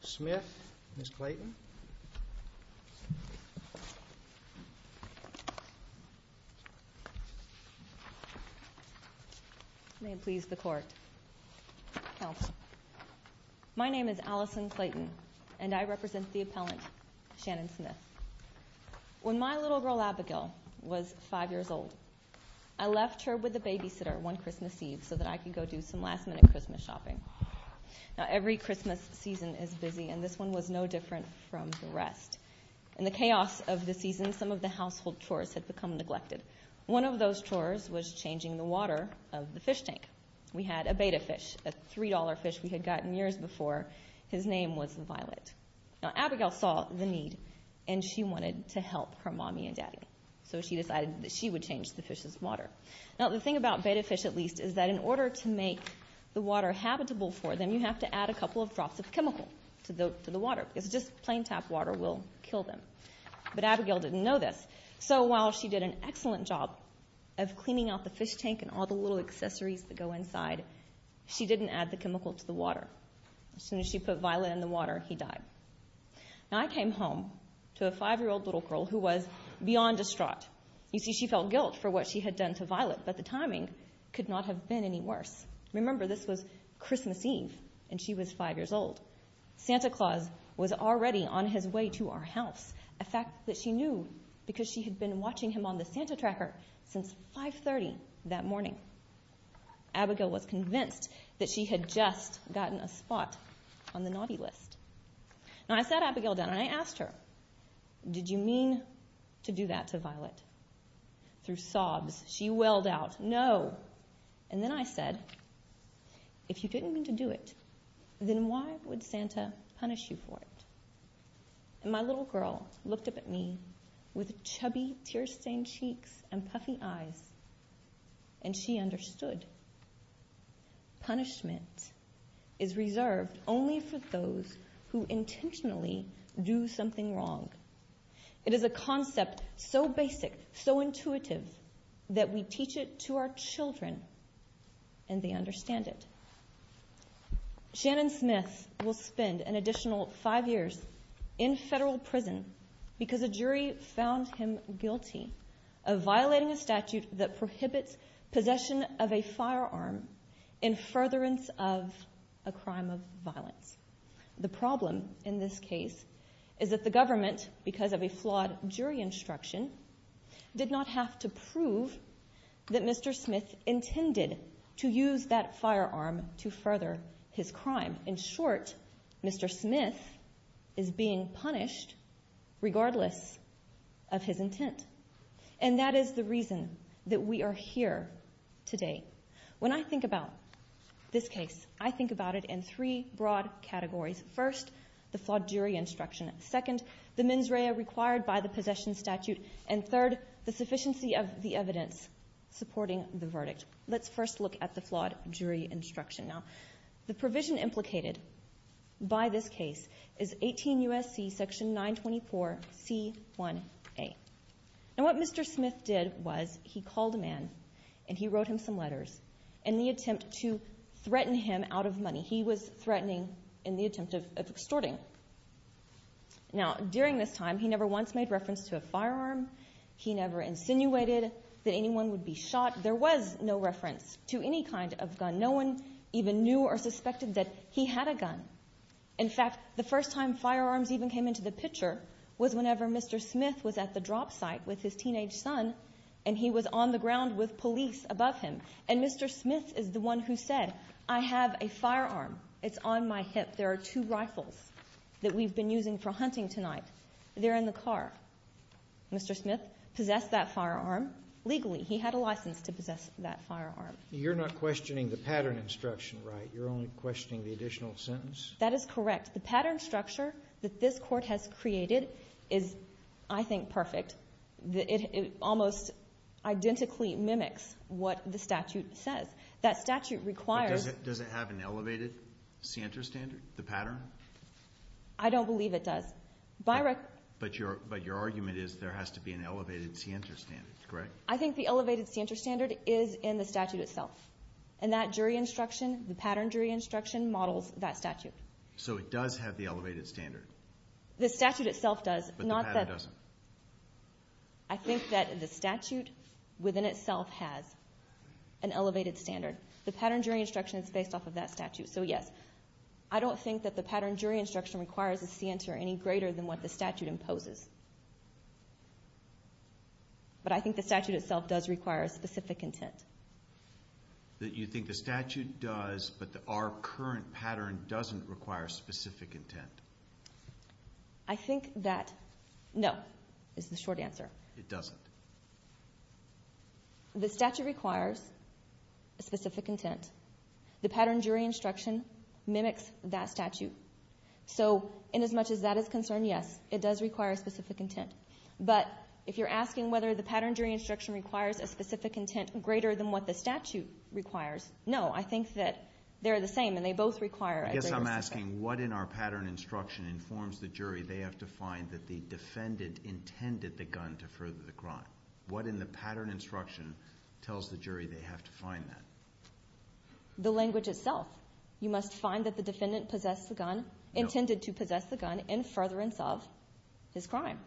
Smith, Ms. Clayton May it please the court My name is Allison Clayton and I represent the appellant Shannon Smith When my little girl Abigail was five years old I left her with a babysitter one Christmas Eve so that I could go do some last-minute Christmas shopping Now every Christmas season is busy and this one was no different from the rest And the chaos of the season some of the household chores had become neglected One of those chores was changing the water of the fish tank. We had a betta fish a $3 fish We had gotten years before his name was the violet now Abigail saw the need and she wanted to help her mommy and daddy So she decided that she would change the fish's water Now the thing about betta fish at least is that in order to make the water Habitable for them you have to add a couple of drops of chemical to the water It's just plain tap water will kill them, but Abigail didn't know this So while she did an excellent job of cleaning out the fish tank and all the little accessories that go inside She didn't add the chemical to the water as soon as she put violet in the water. He died Now I came home to a five-year-old little girl who was beyond distraught You see she felt guilt for what she had done to violet, but the timing could not have been any worse Remember, this was Christmas Eve and she was five years old Santa Claus was already on his way to our house a fact that she knew Because she had been watching him on the Santa tracker since 530 that morning Abigail was convinced that she had just gotten a spot on the naughty list Now I sat Abigail down and I asked her Did you mean to do that to violet? Through sobs she wailed out no, and then I said If you didn't mean to do it, then why would Santa punish you for it? and my little girl looked up at me with chubby tear-stained cheeks and puffy eyes and She understood Punishment is reserved only for those who intentionally do something wrong it is a concept so basic so intuitive that we teach it to our children and They understand it Shannon Smith will spend an additional five years in federal prison because a jury found him guilty of violating a statute that prohibits possession of a firearm in furtherance of a crime of violence The problem in this case is that the government because of a flawed jury instruction Did not have to prove that Mr. Smith intended to use that firearm to further his crime in short Mr. Smith is being punished regardless of his intent and that is the reason that we are here today when I think about This case I think about it in three broad categories first the flawed jury instruction Second the mens rea required by the possession statute and third the sufficiency of the evidence Supporting the verdict. Let's first look at the flawed jury instruction now the provision implicated By this case is 18 USC section 924 c1 a And what mr. Smith did was he called a man and he wrote him some letters and the attempt to Threaten him out of money. He was threatening in the attempt of extorting Now during this time, he never once made reference to a firearm He never insinuated that anyone would be shot. There was no reference to any kind of gun In fact the first time firearms even came into the picture was whenever mr Smith was at the drop site with his teenage son and he was on the ground with police above him and mr Smith is the one who said I have a firearm. It's on my hip There are two rifles that we've been using for hunting tonight. They're in the car Mr. Smith possessed that firearm legally. He had a license to possess that firearm. You're not questioning the pattern instruction, right? You're only questioning the additional sentence. That is correct. The pattern structure that this court has created is I think perfect the it almost Identically mimics what the statute says that statute requires. It doesn't have an elevated Center standard the pattern I Don't believe it does by Rick, but your but your argument is there has to be an elevated C enter standard, right? I think the elevated center standard is in the statute itself and that jury instruction the pattern jury instruction models that statute So it does have the elevated standard the statute itself does not that doesn't I? think that the statute within itself has an Elevated standard the pattern jury instruction is based off of that statute So yes, I don't think that the pattern jury instruction requires a C enter any greater than what the statute imposes But I think the statute itself does require a specific intent That you think the statute does but the our current pattern doesn't require specific intent. I Think that no is the short answer. It doesn't The statute requires a specific intent the pattern jury instruction mimics that statute So in as much as that is concerned, yes, it does require a specific intent But if you're asking whether the pattern jury instruction requires a specific intent greater than what the statute requires No, I think that they're the same and they both require I guess I'm asking what in our pattern instruction informs the jury They have to find that the defendant intended the gun to further the crime what in the pattern instruction Tells the jury they have to find that The language itself you must find that the defendant possessed the gun intended to possess the gun in furtherance of his crime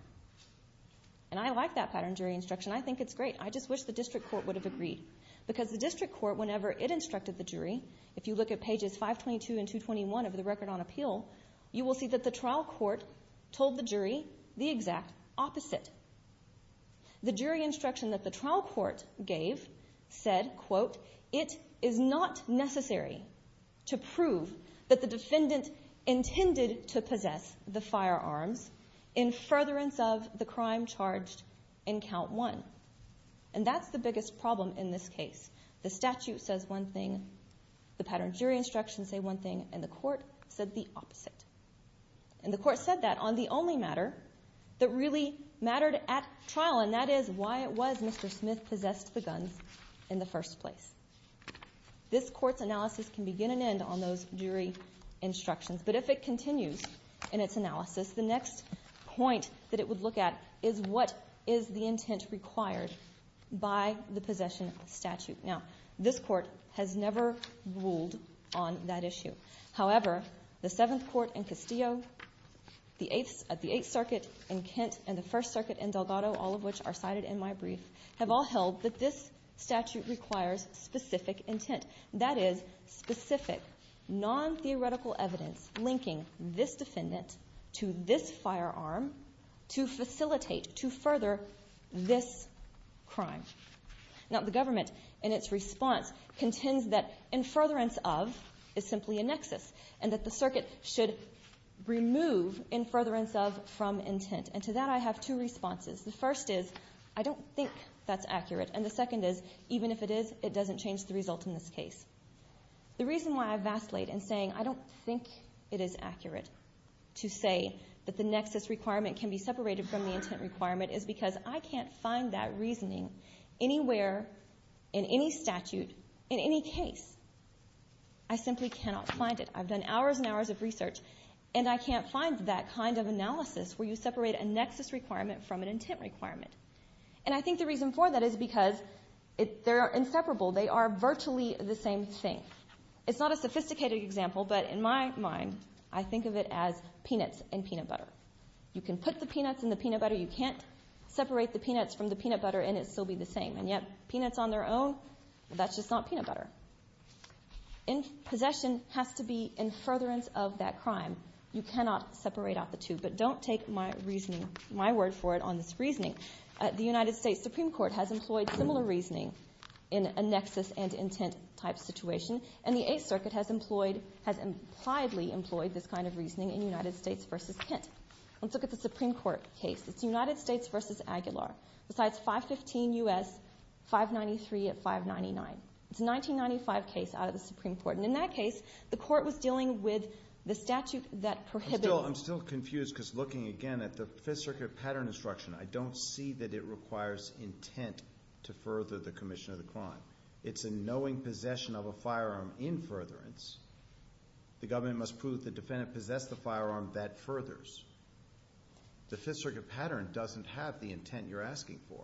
And I like that pattern jury instruction. I think it's great I just wish the district court would have agreed because the district court whenever it instructed the jury if you look at pages 522 and 221 of the record on appeal you will see that the trial court told the jury the exact opposite The jury instruction that the trial court gave said quote it is not necessary to prove that the defendant Intended to possess the firearms in furtherance of the crime charged in count one and That's the biggest problem in this case. The statute says one thing The pattern jury instructions say one thing and the court said the opposite and the court said that on the only matter That really mattered at trial and that is why it was. Mr. Smith possessed the guns in the first place This court's analysis can begin and end on those jury Instructions, but if it continues in its analysis the next point that it would look at is what is the intent required? By the possession statute now, this court has never ruled on that issue however, the seventh court in Castillo The eighth at the Eighth Circuit and Kent and the First Circuit and Delgado all of which are cited in my brief have all held That this statute requires specific intent that is specific Non-theoretical evidence linking this defendant to this firearm to facilitate to further this crime now the government in its response contends that in furtherance of is simply a nexus and that the circuit should Remove in furtherance of from intent and to that I have two responses The first is I don't think that's accurate. And the second is even if it is it doesn't change the result in this case The reason why I vacillate and saying I don't think it is accurate To say that the nexus requirement can be separated from the intent requirement is because I can't find that reasoning Anywhere in any statute in any case. I Simply cannot find it I've done hours and hours of research and I can't find that kind of analysis where you separate a nexus requirement from an intent Requirement and I think the reason for that is because if there are inseparable they are virtually the same thing It's not a sophisticated example, but in my mind I think of it as peanuts and peanut butter You can put the peanuts in the peanut butter You can't separate the peanuts from the peanut butter and it still be the same and yet peanuts on their own That's just not peanut butter in Possession has to be in furtherance of that crime You cannot separate out the two but don't take my reasoning my word for it on this reasoning The United States Supreme Court has employed similar reasoning in a nexus and intent type situation And the Eighth Circuit has employed has implied Lee employed this kind of reasoning in United States versus Kent Let's look at the Supreme Court case. It's United States versus Aguilar besides 515 us 593 at 599 it's 1995 case out of the Supreme Court and in that case the court was dealing with the statute that prohibit I'm still confused because looking again at the Fifth Circuit pattern instruction I don't see that it requires intent to further the Commission of the crime. It's a knowing possession of a firearm in furtherance The government must prove the defendant possessed the firearm that furthers The Fifth Circuit pattern doesn't have the intent you're asking for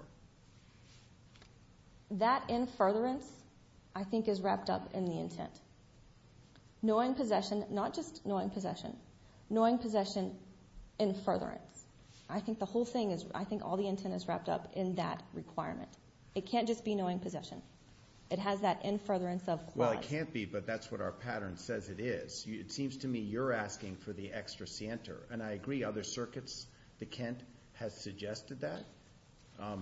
That in furtherance I think is wrapped up in the intent Knowing possession not just knowing possession knowing possession in furtherance I think the whole thing is I think all the intent is wrapped up in that requirement It can't just be knowing possession. It has that in furtherance of well, it can't be but that's what our pattern says It is you it seems to me you're asking for the extra center and I agree other circuits the Kent has suggested that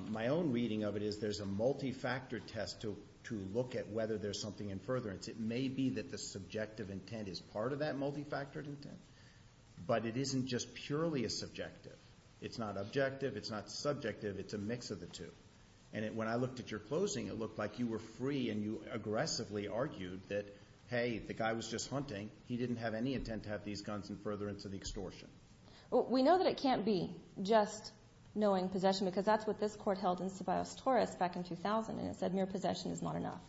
My own reading of it is there's a Multi-factor test to to look at whether there's something in furtherance It may be that the subjective intent is part of that multi-factored intent But it isn't just purely a subjective. It's not objective. It's not subjective It's a mix of the two and it when I looked at your closing It looked like you were free and you aggressively argued that hey, the guy was just hunting He didn't have any intent to have these guns and furtherance of the extortion We know that it can't be just Knowing possession because that's what this court held in subiost Taurus back in 2000 and it said mere possession is not enough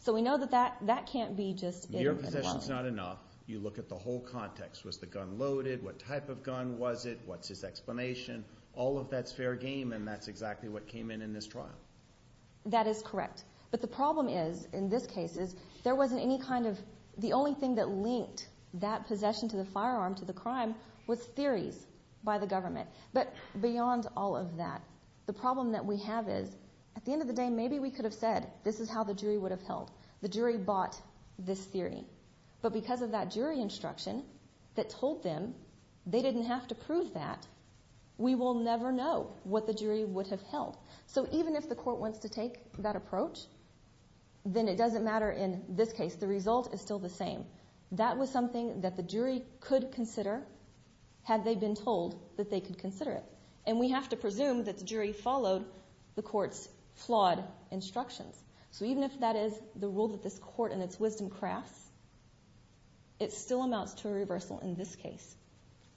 So we know that that that can't be just your possessions not enough You look at the whole context was the gun loaded. What type of gun was it? What's his explanation all of that's fair game and that's exactly what came in in this trial That is correct But the problem is in this case is there wasn't any kind of the only thing that linked that Possession to the firearm to the crime was theories by the government But beyond all of that the problem that we have is at the end of the day Maybe we could have said this is how the jury would have held the jury bought this theory But because of that jury instruction that told them they didn't have to prove that We will never know what the jury would have held. So even if the court wants to take that approach Then it doesn't matter in this case. The result is still the same That was something that the jury could consider Had they been told that they could consider it and we have to presume that the jury followed the court's flawed Instructions. So even if that is the rule that this court and its wisdom crafts It still amounts to a reversal in this case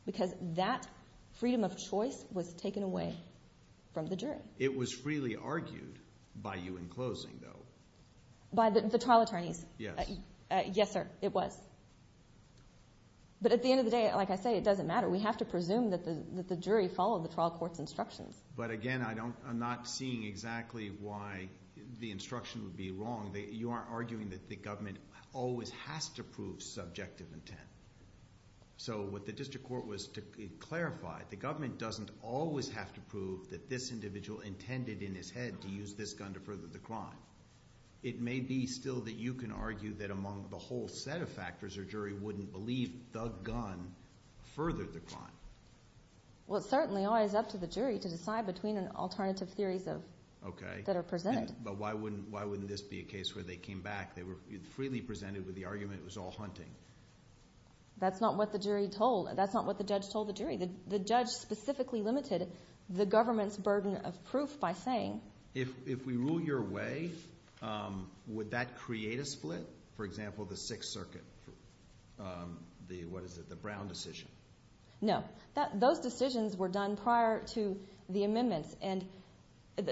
Because that freedom of choice was taken away from the jury. It was freely argued by you in closing though By the trial attorneys. Yes. Yes, sir. It was But at the end of the day, like I say it doesn't matter we have to presume that the jury followed the trial court's instructions But again, I don't I'm not seeing exactly why the instruction would be wrong They you aren't arguing that the government always has to prove subjective intent So what the district court was to clarify the government doesn't always have to prove that this individual Intended in his head to use this gun to further the crime It may be still that you can argue that among the whole set of factors or jury wouldn't believe the gun furthered the crime Well, certainly I is up to the jury to decide between an alternative theories of okay that are presented But why wouldn't why wouldn't this be a case where they came back? They were freely presented with the argument. It was all hunting That's not what the jury told that's not what the judge told the jury that the judge Specifically limited the government's burden of proof by saying if we rule your way Would that create a split for example the Sixth Circuit? The what is it the Brown decision? No that those decisions were done prior to the amendments and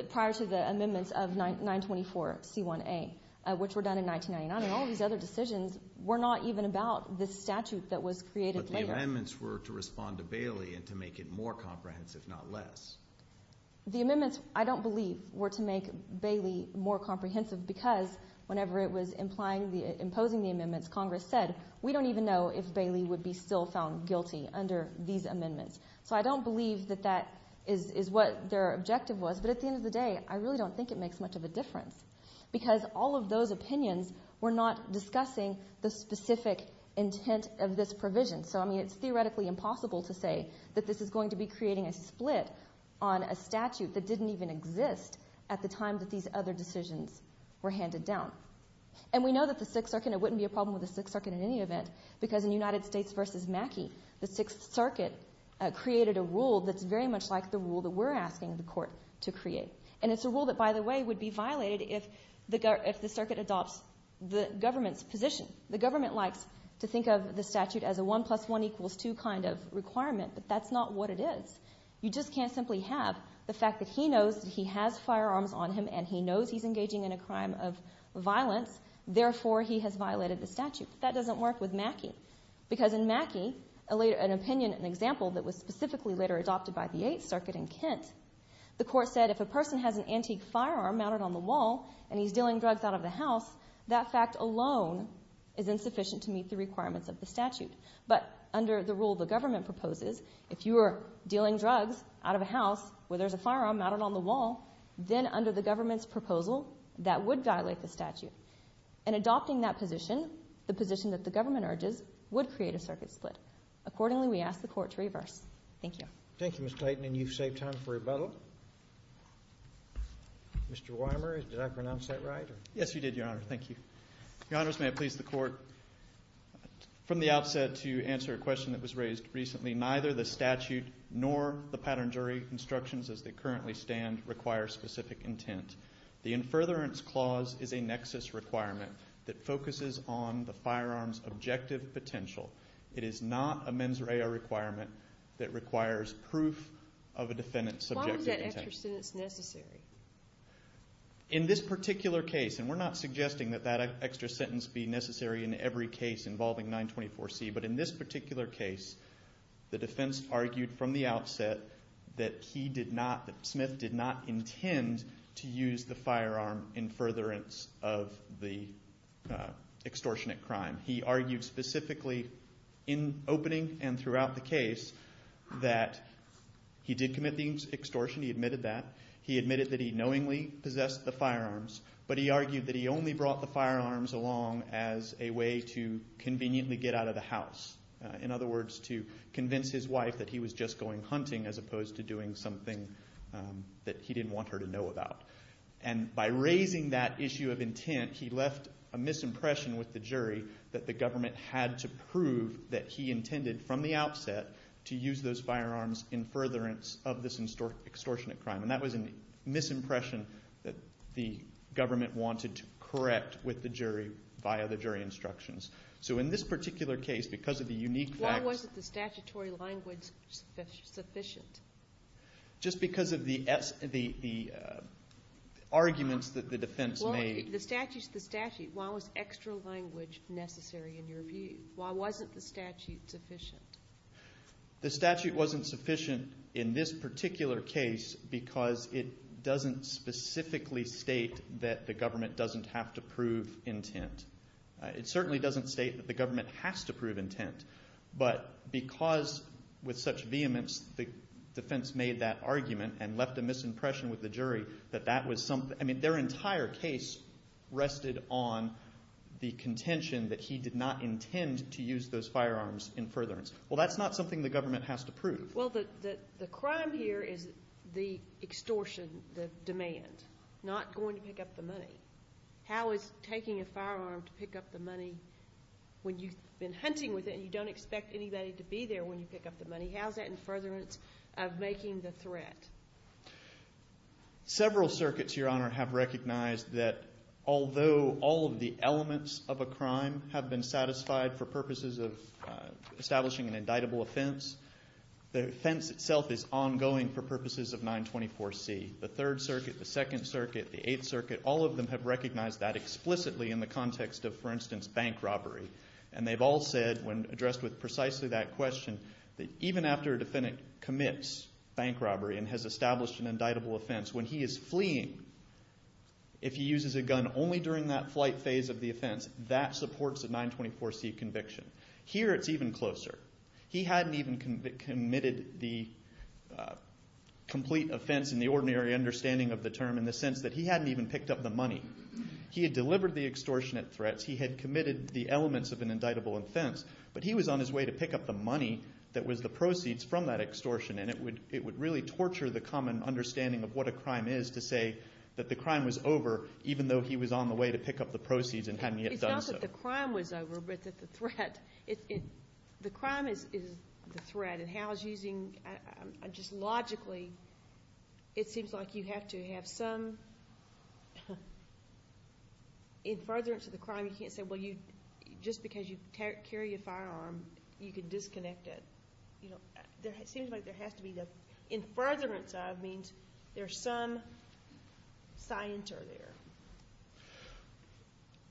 prior to the amendments of 924 c1a Which were done in 1999 all these other decisions were not even about this statute that was created Amendments were to respond to Bailey and to make it more comprehensive not less The amendments I don't believe were to make Bailey more comprehensive because whenever it was implying the imposing the amendments Congress said We don't even know if Bailey would be still found guilty under these amendments So I don't believe that that is is what their objective was but at the end of the day I really don't think it makes much of a difference Because all of those opinions were not discussing the specific intent of this provision So I mean it's theoretically impossible to say that this is going to be creating a split on A statute that didn't even exist at the time that these other decisions were handed down And we know that the Sixth Circuit it wouldn't be a problem with the Sixth Circuit in any event because in United States versus Mackey the Sixth Circuit Created a rule that's very much like the rule that we're asking the court to create and it's a rule that by the way would Be violated if the go if the circuit adopts the government's position The government likes to think of the statute as a 1 plus 1 equals 2 kind of requirement But that's not what it is You just can't simply have the fact that he knows that he has firearms on him and he knows he's engaging in a crime of Violence therefore he has violated the statute that doesn't work with Mackey Because in Mackey a later an opinion an example that was specifically later adopted by the Eighth Circuit in Kent The court said if a person has an antique firearm mounted on the wall, and he's dealing drugs out of the house that fact alone Is insufficient to meet the requirements of the statute? But under the rule the government proposes if you are dealing drugs out of a house where there's a firearm mounted on the wall then under the government's proposal that would violate the statute and Adopting that position the position that the government urges would create a circuit split accordingly. We asked the court to reverse. Thank you Thank you, mr. Clayton, and you've saved time for rebuttal Mr. Weimer did I pronounce that right? Yes, you did your honor. Thank you. Your honors. May I please the court? From the outset to answer a question that was raised recently neither the statute nor the pattern jury Instructions as they currently stand require specific intent The in furtherance clause is a nexus requirement that focuses on the firearms objective potential It is not a mens rea requirement that requires proof of a defendant subject In this particular case and we're not suggesting that that extra sentence be necessary in every case involving 924 C But in this particular case the defense argued from the outset that he did not that Smith did not intend to use the firearm in furtherance of the extortionate crime he argued specifically in opening and throughout the case that He did commit the extortion he admitted that he admitted that he knowingly possessed the firearms But he argued that he only brought the firearms along as a way to Conveniently get out of the house in other words to convince his wife that he was just going hunting as opposed to doing something That he didn't want her to know about and by raising that issue of intent He left a misimpression with the jury that the government had to prove that he intended from the outset To use those firearms in furtherance of this in store extortionate crime And that was a misimpression that the government wanted to correct with the jury via the jury instructions So in this particular case because of the unique one wasn't the statutory language sufficient just because of the s the Arguments that the defense made the statutes the statute while was extra language necessary in your view. Why wasn't the statute sufficient? The statute wasn't sufficient in this particular case because it doesn't Specifically state that the government doesn't have to prove intent It certainly doesn't state that the government has to prove intent But because with such vehemence the defense made that argument and left a misimpression with the jury that that was something I mean their entire case Rested on the contention that he did not intend to use those firearms in furtherance Well, that's not something the government has to prove. Well, the crime here is the extortion the demand Not going to pick up the money How is taking a firearm to pick up the money? When you've been hunting with it, you don't expect anybody to be there when you pick up the money How's that in furtherance of making the threat? Several circuits your honor have recognized that although all of the elements of a crime have been satisfied for purposes of Establishing an indictable offense The offense itself is ongoing for purposes of 924 C The Third Circuit the Second Circuit the Eighth Circuit all of them have recognized that Explicitly in the context of for instance bank robbery and they've all said when addressed with precisely that question That even after a defendant commits bank robbery and has established an indictable offense when he is fleeing If he uses a gun only during that flight phase of the offense that supports a 924 C conviction here it's even closer he hadn't even committed the Complete offense in the ordinary understanding of the term in the sense that he hadn't even picked up the money He had delivered the extortionate threats He had committed the elements of an indictable offense But he was on his way to pick up the money That was the proceeds from that extortion and it would it would really torture the common understanding of what a crime is to say that the crime was over even though he was on the way to pick up the proceeds and The crime was over but that the threat it the crime is is the threat and how is using Just logically It seems like you have to have some In furtherance of the crime you can't say well you just because you carry a firearm you can disconnect it In furtherance of means there's some Scienter there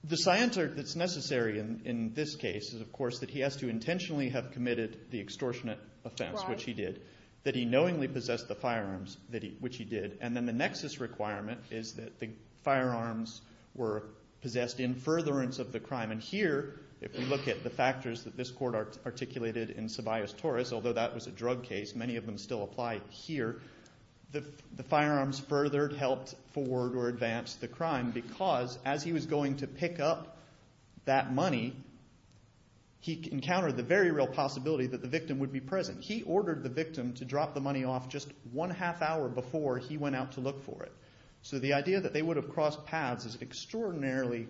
The Scienter that's necessary in this case is of course that he has to intentionally have committed the extortionate offense Which he did that he knowingly possessed the firearms that he which he did and then the nexus requirement is that the firearms were? Possessed in furtherance of the crime and here if we look at the factors that this court Articulated in Sebaeus Taurus, although that was a drug case many of them still apply here The the firearms furthered helped forward or advanced the crime because as he was going to pick up that money He encountered the very real possibility that the victim would be present He ordered the victim to drop the money off just one half hour before he went out to look for it So the idea that they would have crossed paths is extraordinarily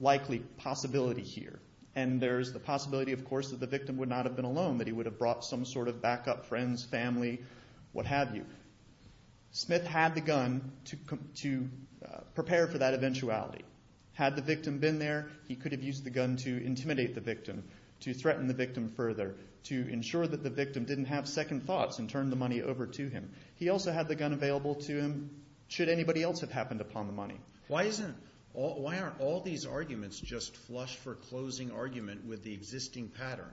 likely Possibility here and there's the possibility of course that the victim would not have been alone that he would have brought some sort of backup friends family what have you Smith had the gun to come to Prepare for that eventuality had the victim been there He could have used the gun to intimidate the victim to threaten the victim further To ensure that the victim didn't have second thoughts and turn the money over to him He also had the gun available to him should anybody else have happened upon the money Why isn't all why aren't all these arguments just flushed for closing argument with the existing pattern?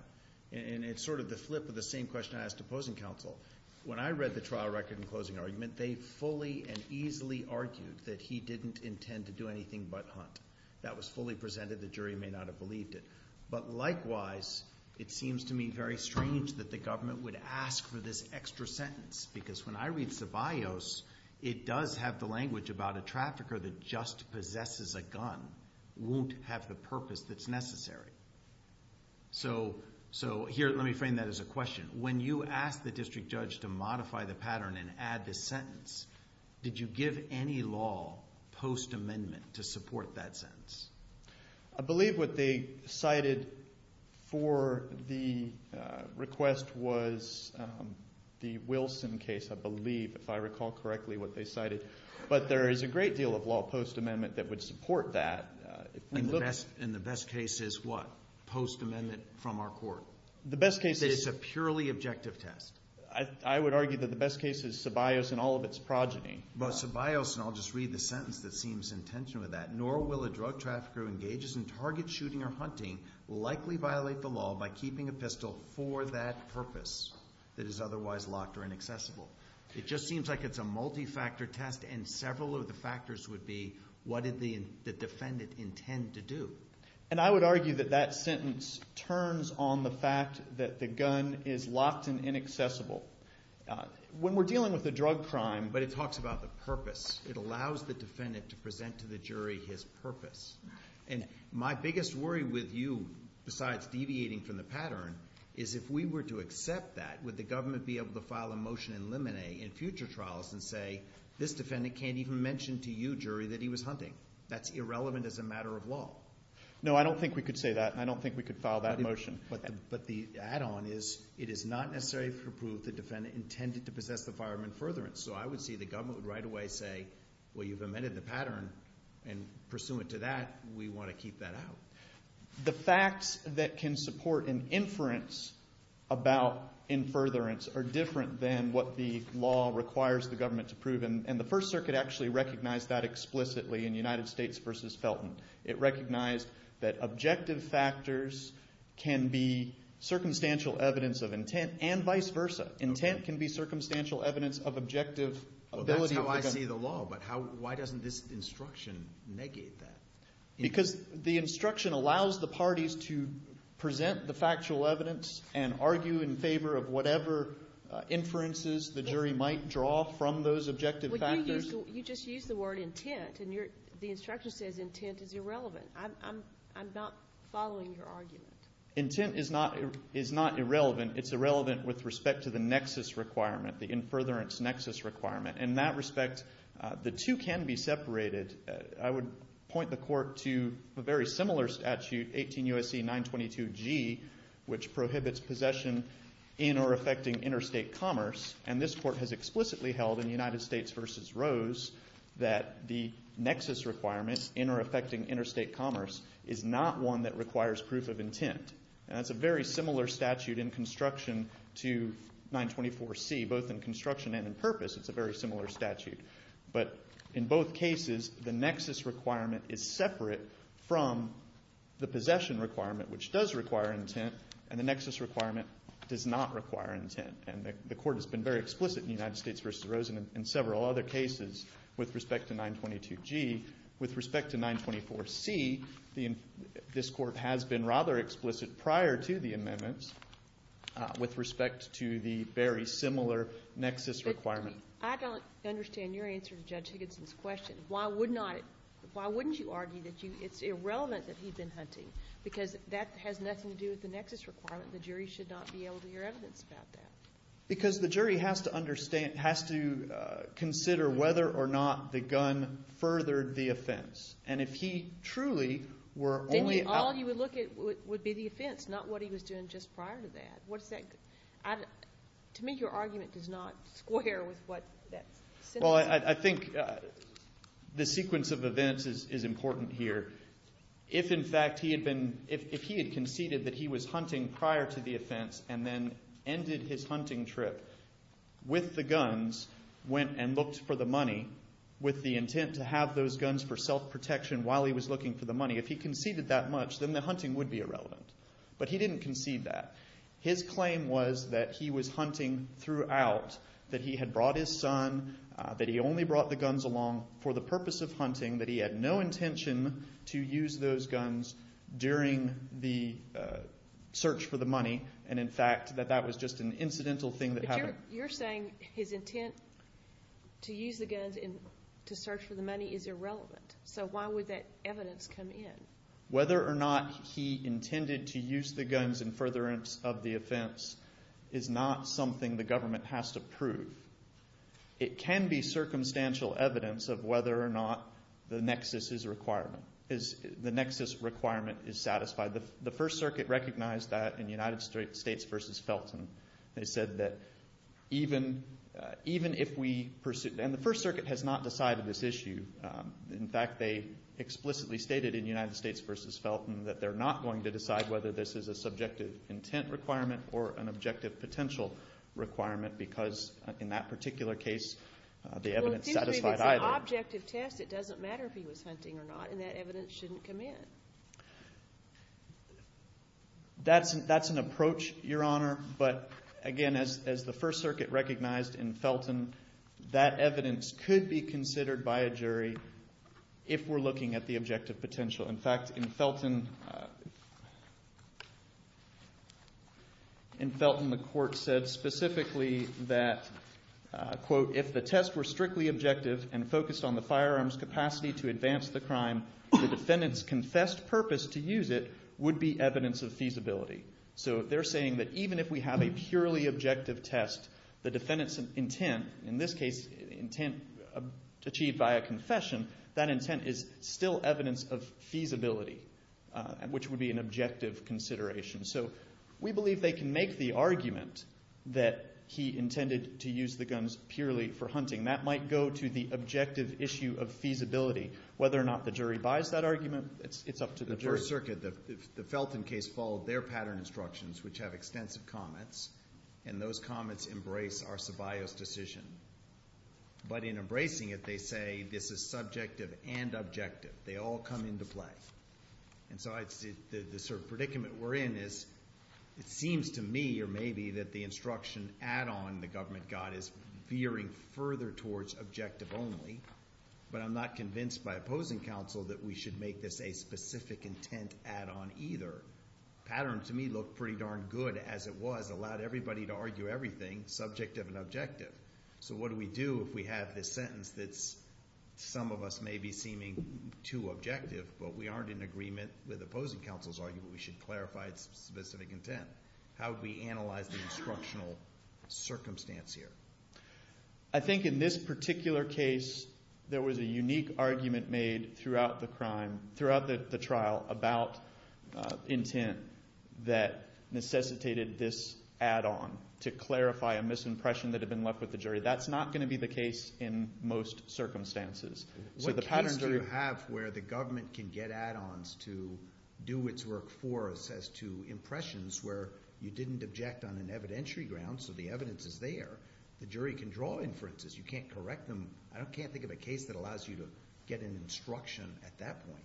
And it's sort of the flip of the same question I asked opposing counsel when I read the trial record in closing argument They fully and easily argued that he didn't intend to do anything, but hunt that was fully presented The jury may not have believed it But likewise it seems to me very strange that the government would ask for this extra sentence because when I read the bios It does have the language about a trafficker that just possesses a gun won't have the purpose that's necessary So so here let me frame that as a question when you ask the district judge to modify the pattern and add this sentence Did you give any law post amendment to support that sentence? I believe what they cited for the request was The Wilson case I believe if I recall correctly what they cited But there is a great deal of law post amendment that would support that Best in the best case is what post amendment from our court the best case is a purely objective test I would argue that the best case is sub ios and all of its progeny But sub ios and I'll just read the sentence that seems in tension with that nor will a drug trafficker engages in target shooting or hunting Likely violate the law by keeping a pistol for that purpose that is otherwise locked or inaccessible It just seems like it's a multi-factor test and several of the factors would be what did the defendant? Intend to do and I would argue that that sentence turns on the fact that the gun is locked and inaccessible When we're dealing with the drug crime, but it talks about the purpose It allows the defendant to present to the jury his purpose and my biggest worry with you besides deviating from the pattern is if we were to accept that with the government be able to file a motion in limine in future trials and say This defendant can't even mention to you jury that he was hunting. That's irrelevant as a matter of law No, I don't think we could say that I don't think we could file that motion But but the add-on is it is not necessary for proof the defendant intended to possess the fireman furtherance so I would see the government right away say well, you've amended the pattern and Pursuant to that we want to keep that out the facts that can support an inference about Infurtherance are different than what the law requires the government to prove and the First Circuit actually recognized that Explicitly in United States versus Felton. It recognized that objective factors can be Circumstantial evidence of intent and vice versa intent can be circumstantial evidence of objective ability, I see the law but how why doesn't this instruction negate that because the instruction allows the parties to Argue in favor of whatever Inferences the jury might draw from those objective You just use the word intent and you're the instruction says intent is irrelevant I'm I'm not following your argument intent is not is not irrelevant It's irrelevant with respect to the nexus requirement the in furtherance nexus requirement in that respect The two can be separated. I would point the court to a very similar statute 18 USC 922 G Which prohibits possession in or affecting interstate commerce and this court has explicitly held in the United States versus Rose That the nexus requirements in or affecting interstate commerce is not one that requires proof of intent And that's a very similar statute in construction to 924 C both in construction and in purpose It's a very similar statute, but in both cases the nexus requirement is separate from The possession requirement which does require intent and the nexus requirement does not require intent and the court has been very explicit in the United States versus Rosen in several other cases with respect to 922 G with respect to 924 C The in this court has been rather explicit prior to the amendments With respect to the very similar nexus requirement. I don't understand your answer to judge Higginson's question Why would not why wouldn't you argue that you it's irrelevant that he'd been hunting? Because that has nothing to do with the nexus requirement. The jury should not be able to hear evidence about that because the jury has to understand has to Consider whether or not the gun Furthered the offense and if he truly were only all you would look at would be the offense not what he was doing Just prior to that. What's that? To me your argument does not square with what? well, I think The sequence of events is important here If in fact he had been if he had conceded that he was hunting prior to the offense and then ended his hunting trip with the guns Went and looked for the money With the intent to have those guns for self-protection while he was looking for the money if he conceded that much then the hunting would Be irrelevant, but he didn't concede that his claim was that he was hunting throughout that Brought his son that he only brought the guns along for the purpose of hunting that he had no intention to use those guns during the Search for the money and in fact that that was just an incidental thing that you're saying his intent To use the guns in to search for the money is irrelevant So why would that evidence come in whether or not he intended to use the guns in furtherance of the offense? Is not something the government has to prove It can be circumstantial evidence of whether or not the nexus is requirement is The nexus requirement is satisfied the the First Circuit recognized that in United States versus Felton. They said that even Even if we pursued and the First Circuit has not decided this issue in fact They explicitly stated in United States versus Felton that they're not going to decide whether this is a subjective intent requirement or an objective Potential requirement because in that particular case the evidence That's that's an approach your honor But again as the First Circuit recognized in Felton that evidence could be considered by a jury If we're looking at the objective potential in fact in Felton In Felton the court said specifically that Quote if the tests were strictly objective and focused on the firearms capacity to advance the crime The defendants confessed purpose to use it would be evidence of feasibility So they're saying that even if we have a purely objective test the defendants and intent in this case intent Achieved by a confession that intent is still evidence of feasibility Which would be an objective consideration so we believe they can make the argument that He intended to use the guns purely for hunting that might go to the objective issue of feasibility Whether or not the jury buys that argument It's it's up to the first circuit that the Felton case followed their pattern instructions Which have extensive comments and those comments embrace our sub ios decision But in embracing it they say this is subjective and objective they all come into play and so I'd see the the sort of predicament we're in is It seems to me or maybe that the instruction add-on the government got is veering further towards objective only But I'm not convinced by opposing counsel that we should make this a specific intent add-on either Pattern to me look pretty darn good as it was allowed everybody to argue everything subjective and objective so what do we do if we have this sentence that's Some of us may be seeming too objective, but we aren't in agreement with opposing counsel's argument We should clarify its specific intent. How do we analyze the instructional? Circumstance here. I Think in this particular case, there was a unique argument made throughout the crime throughout the trial about intent that Necessitated this add-on to clarify a misimpression that have been left with the jury. That's not going to be the case in most Circumstances, so the patterns are you have where the government can get add-ons to do its work for us as to Impressions where you didn't object on an evidentiary ground. So the evidence is there the jury can draw inferences You can't correct them. I don't can't think of a case that allows you to get an instruction at that point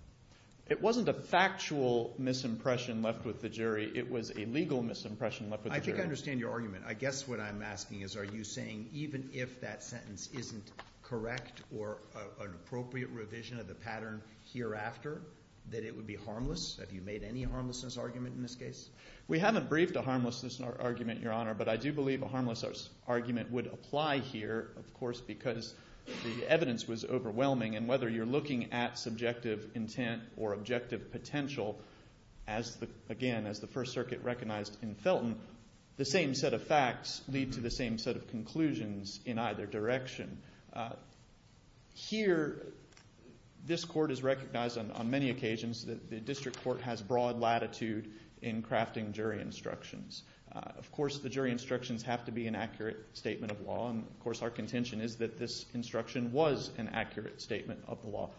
It wasn't a factual Misimpression left with the jury. It was a legal misimpression left with I think I understand your argument I guess what I'm asking is are you saying even if that sentence isn't correct or an appropriate revision of the pattern? Hereafter that it would be harmless. Have you made any harmlessness argument in this case? We haven't briefed a harmlessness in our argument your honor But I do believe a harmless argument would apply here of course because the evidence was overwhelming and whether you're looking at subjective intent or objective potential as Again as the First Circuit recognized in Felton the same set of facts lead to the same set of conclusions in either direction Here This court is recognized on many occasions that the district court has broad latitude in crafting jury instructions Of course the jury instructions have to be an accurate statement of law And of course our contention is that this instruction was an accurate statement of the law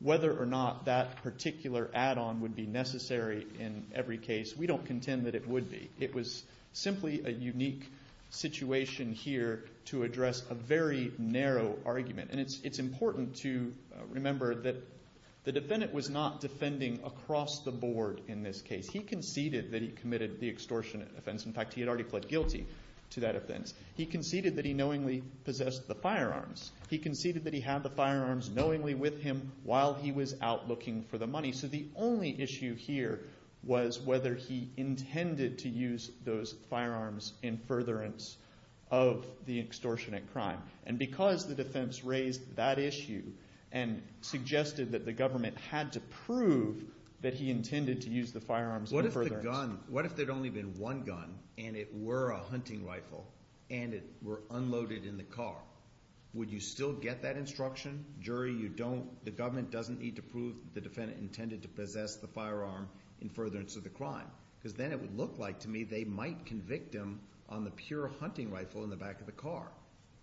Whether or not that particular add-on would be necessary in every case we don't contend that it would be it was simply a unique situation here to address a very narrow argument and it's it's important to Remember that the defendant was not defending across the board in this case. He conceded that he committed the extortionate offense In fact, he had already pled guilty to that offense. He conceded that he knowingly possessed the firearms He conceded that he had the firearms knowingly with him while he was out looking for the money so the only issue here was whether he intended to use those firearms in furtherance of the extortionate crime and because the defense raised that issue and Suggested that the government had to prove that he intended to use the firearms What if the gun what if there'd only been one gun and it were a hunting rifle and it were unloaded in the car? Would you still get that instruction? Jury, you don't the government doesn't need to prove the defendant intended to possess the firearm in furtherance of the crime Because then it would look like to me they might convict him on the pure hunting rifle in the back of the car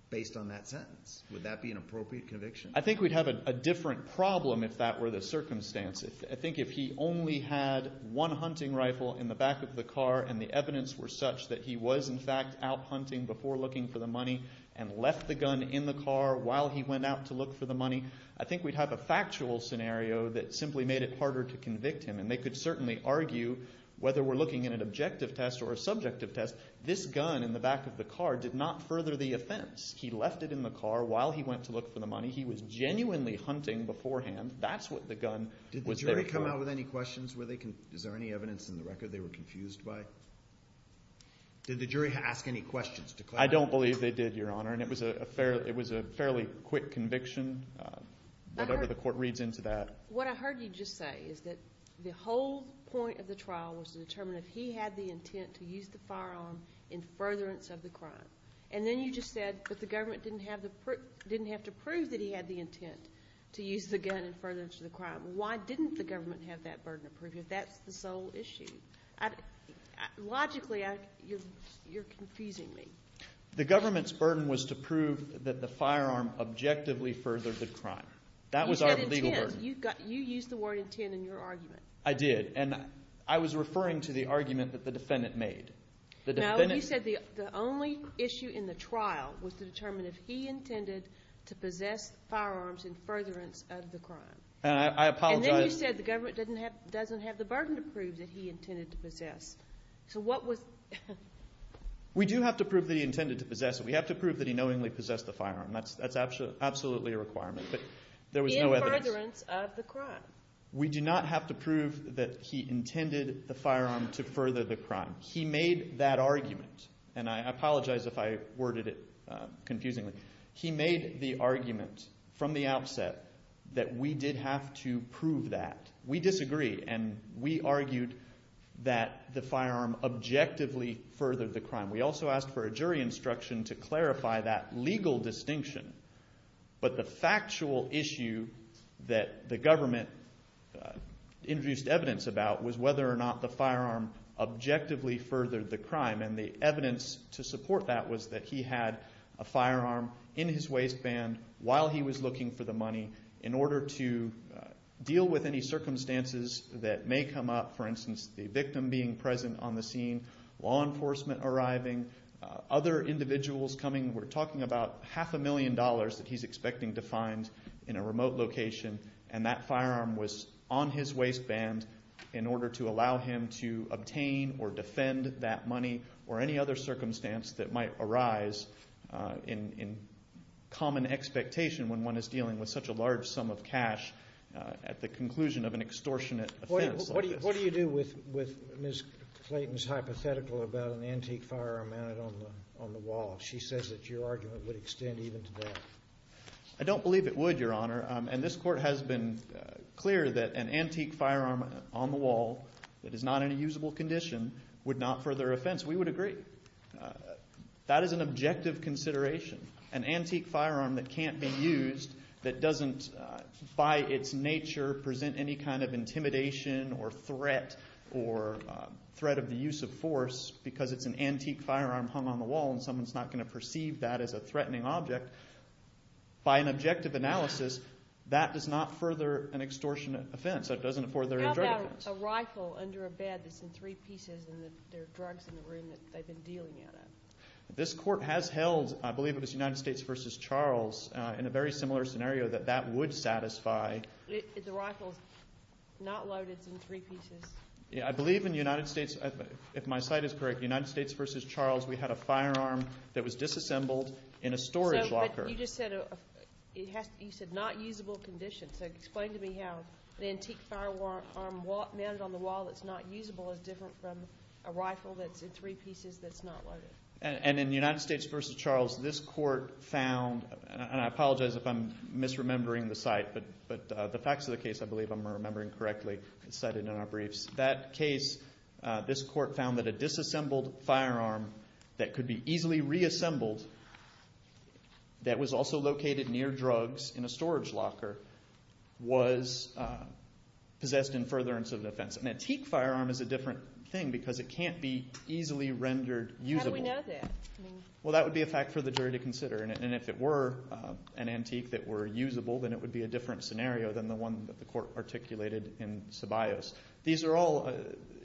Based on that sentence would that be an appropriate conviction? I think we'd have a different problem if that were the circumstances I think if he only had one hunting rifle in the back of the car and the evidence were such that he was in fact out hunting before looking for the And left the gun in the car while he went out to look for the money I think we'd have a factual scenario that simply made it harder to convict him and they could certainly argue Whether we're looking at an objective test or a subjective test this gun in the back of the car did not further the offense He left it in the car while he went to look for the money. He was genuinely hunting beforehand That's what the gun did come out with any questions where they can is there any evidence in the record? They were confused by Did the jury ask any questions I don't believe they did your honor and it was a fair it was a fairly quick conviction Whatever the court reads into that what I heard you just say is that the whole point of the trial was to determine if he? Had the intent to use the firearm in furtherance of the crime And then you just said but the government didn't have the proof didn't have to prove that he had the intent To use the gun in furtherance to the crime. Why didn't the government have that burden of proof if that's the sole issue? Logically I you you're confusing me the government's burden was to prove that the firearm Objectively further the crime that was our legal burden you've got you use the word intent in your argument I did and I was referring to the argument that the defendant made The defendant said the only issue in the trial was to determine if he intended to possess Firearms in furtherance of the crime, and I apologize said the government doesn't have doesn't have the burden to prove that he intended to possess So what was? We do have to prove that he intended to possess we have to prove that he knowingly possessed the firearm That's that's actually absolutely a requirement, but there was no evidence of the crime We do not have to prove that he intended the firearm to further the crime He made that argument, and I apologize if I worded it He made the argument from the outset that we did have to prove that we disagree and we argued that The firearm objectively furthered the crime we also asked for a jury instruction to clarify that legal distinction But the factual issue that the government introduced evidence about was whether or not the firearm Objectively furthered the crime and the evidence to support that was that he had a firearm in his waistband while he was looking for the money in order to Deal with any circumstances that may come up for instance the victim being present on the scene law enforcement arriving other Individuals coming we're talking about half a million dollars that he's expecting to find in a remote location And that firearm was on his waistband in order to allow him to obtain or defend that money or any other circumstance that might arise in Common expectation when one is dealing with such a large sum of cash At the conclusion of an extortionate. What do you do with with Miss Clayton's hypothetical about an antique firearm? On the wall she says that your argument would extend even today I don't believe it would your honor and this court has been Clear that an antique firearm on the wall that is not in a usable condition would not further offense. We would agree that is an objective consideration an antique firearm that can't be used that doesn't by its nature present any kind of intimidation or threat or Threat of the use of force because it's an antique firearm hung on the wall and someone's not going to perceive that as a threatening object By an objective analysis that does not further an extortionate offense. It doesn't afford their Rifle under a bed that's in three pieces This court has held I believe it was United States versus Charles in a very similar scenario that that would satisfy Yeah, I believe in the United States if my site is correct United States versus Charles We had a firearm that was disassembled in a storage locker It has to be said not usable condition So explain to me how the antique firearm what mounted on the wall? That's not usable as different from a rifle that's in three pieces That's not loaded and in the United States versus Charles this court found and I apologize if I'm misremembering the site But but the facts of the case, I believe I'm remembering correctly. It's cited in our briefs that case This court found that a disassembled firearm that could be easily reassembled That was also located near drugs in a storage locker was Possessed in furtherance of defense an antique firearm is a different thing because it can't be easily rendered Well, that would be a fact for the jury to consider and if it were an antique that were usable Then it would be a different scenario than the one that the court articulated in sub ios These are all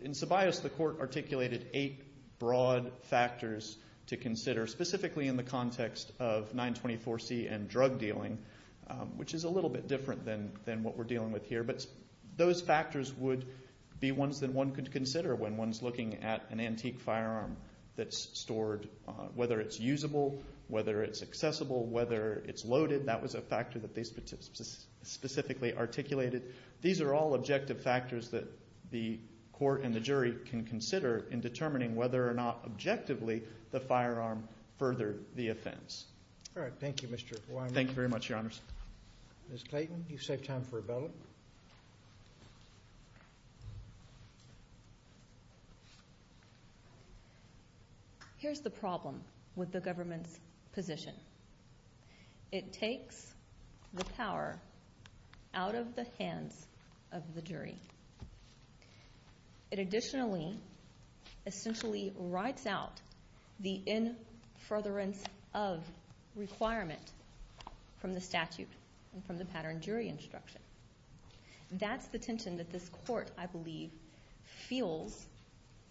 in sub ios the court articulated eight broad factors to consider specifically in the context of 924 C and drug dealing Which is a little bit different than than what we're dealing with here But those factors would be ones that one could consider when one's looking at an antique firearm that's stored Whether it's usable whether it's accessible whether it's loaded. That was a factor that they Specifically articulated These are all objective factors that the court and the jury can consider in determining whether or not Objectively the firearm furthered the offense. All right. Thank you. Mr. Why thank you very much your honors Miss Clayton you save time for a bell Here's the problem with the government's position It takes the power out of the hands of the jury It additionally essentially writes out the in furtherance of requirement From the statute and from the pattern jury instruction That's the tension that this court I believe feels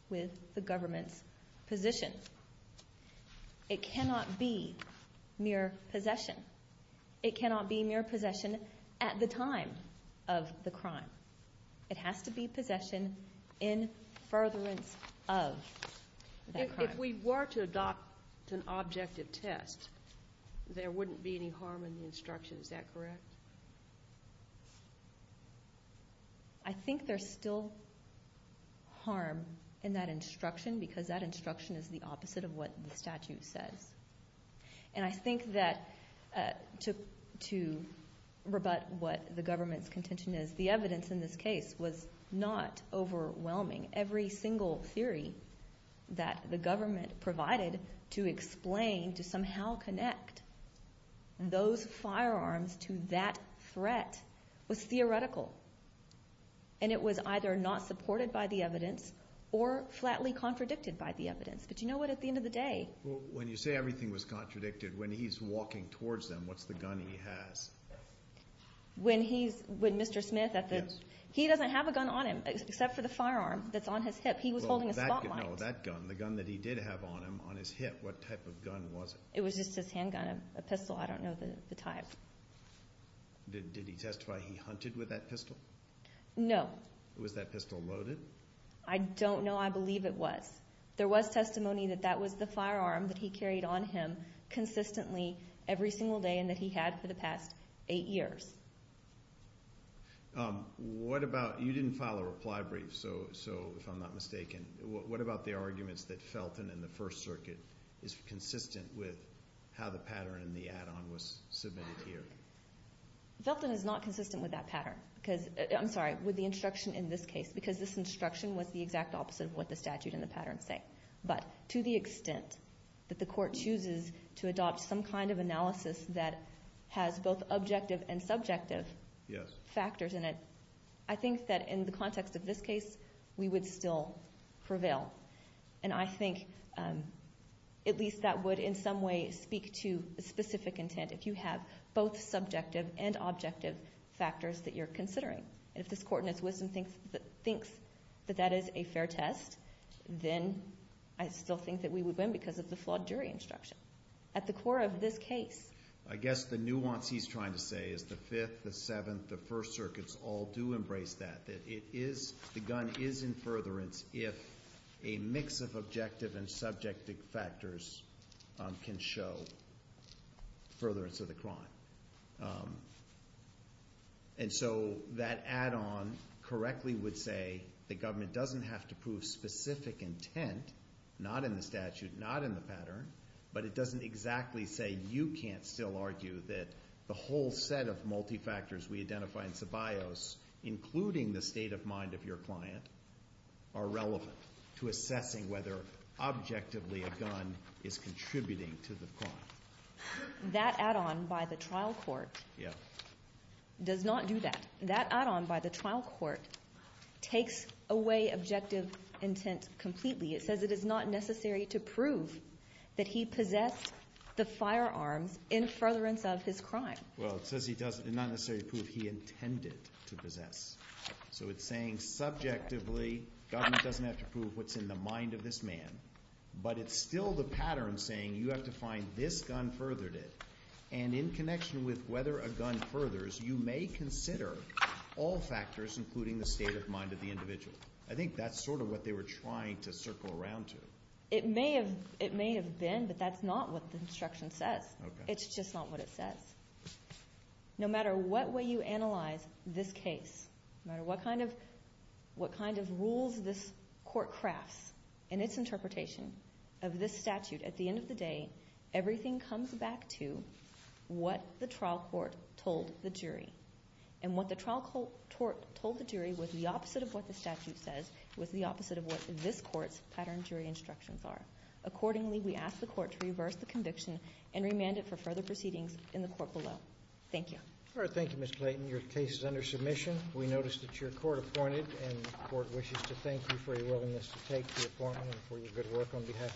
with the government's position It cannot be mere possession It cannot be mere possession at the time of the crime. It has to be possession in furtherance of If we were to adopt an objective test There wouldn't be any harm in the instruction. Is that correct? I Think there's still Harm in that instruction because that instruction is the opposite of what the statute says and I think that to to Rebut what the government's contention is the evidence in this case was not Overwhelming every single theory that the government provided to explain to somehow connect those firearms to that threat was theoretical and It was either not supported by the evidence or flatly contradicted by the evidence But you know what at the end of the day when you say everything was contradicted when he's walking towards them. What's the gun he has? When he's with mr. Smith at the he doesn't have a gun on him except for the firearm. That's on his hip He was holding a spotlight. No that gun the gun that he did have on him on his hip What type of gun was it? It was just his handgun a pistol. I don't know the type Did he testify he hunted with that pistol? No, it was that pistol loaded. I don't know I believe it was there was testimony that that was the firearm that he carried on him Consistently every single day and that he had for the past eight years What about you didn't file a reply brief so so if I'm not mistaken What about the arguments that Felton in the First Circuit is consistent with how the pattern and the add-on was submitted here? Felton is not consistent with that pattern because I'm sorry with the instruction in this case because this instruction was the exact opposite of what The statute in the pattern say but to the extent that the court chooses to adopt some kind of analysis that Has both objective and subjective Yes factors in it. I think that in the context of this case, we would still prevail and I think At least that would in some way speak to a specific intent if you have both subjective and objective Factors that you're considering and if this court in its wisdom thinks that thinks that that is a fair test Then I still think that we would win because of the flawed jury instruction at the core of this case I guess the nuance he's trying to say is the fifth the seventh the First Circuits all do embrace that that it is The gun is in furtherance if a mix of objective and subjective factors can show furtherance of the crime and So that add-on Correctly would say the government doesn't have to prove specific intent not in the statute not in the pattern But it doesn't exactly say you can't still argue that the whole set of multi factors. We identify in sub ios Including the state of mind of your client are relevant to assessing whether Objectively a gun is contributing to the car That add-on by the trial court. Yeah Does not do that that add-on by the trial court? Takes away objective intent completely. It says it is not necessary to prove that he possessed the firearms Furtherance of his crime. Well, it says he doesn't not necessarily prove he intended to possess so it's saying subjectively Doesn't have to prove what's in the mind of this man? But it's still the pattern saying you have to find this gun furthered it and in connection with whether a gun furthers You may consider all factors including the state of mind of the individual I think that's sort of what they were trying to circle around to it may have it may have been but that's not what the It's just not what it says No matter what way you analyze this case no matter what kind of? What kind of rules this court crafts and its interpretation of this statute at the end of the day? everything comes back to What the trial court told the jury and what the trial court? Told the jury with the opposite of what the statute says with the opposite of what this court's pattern jury instructions are Accordingly, we ask the court to reverse the conviction and remand it for further proceedings in the court below. Thank you All right. Thank you. Miss Clayton. Your case is under submission We noticed that your court appointed and the court wishes to thank you for your willingness to take the appointment for your good work on behalf of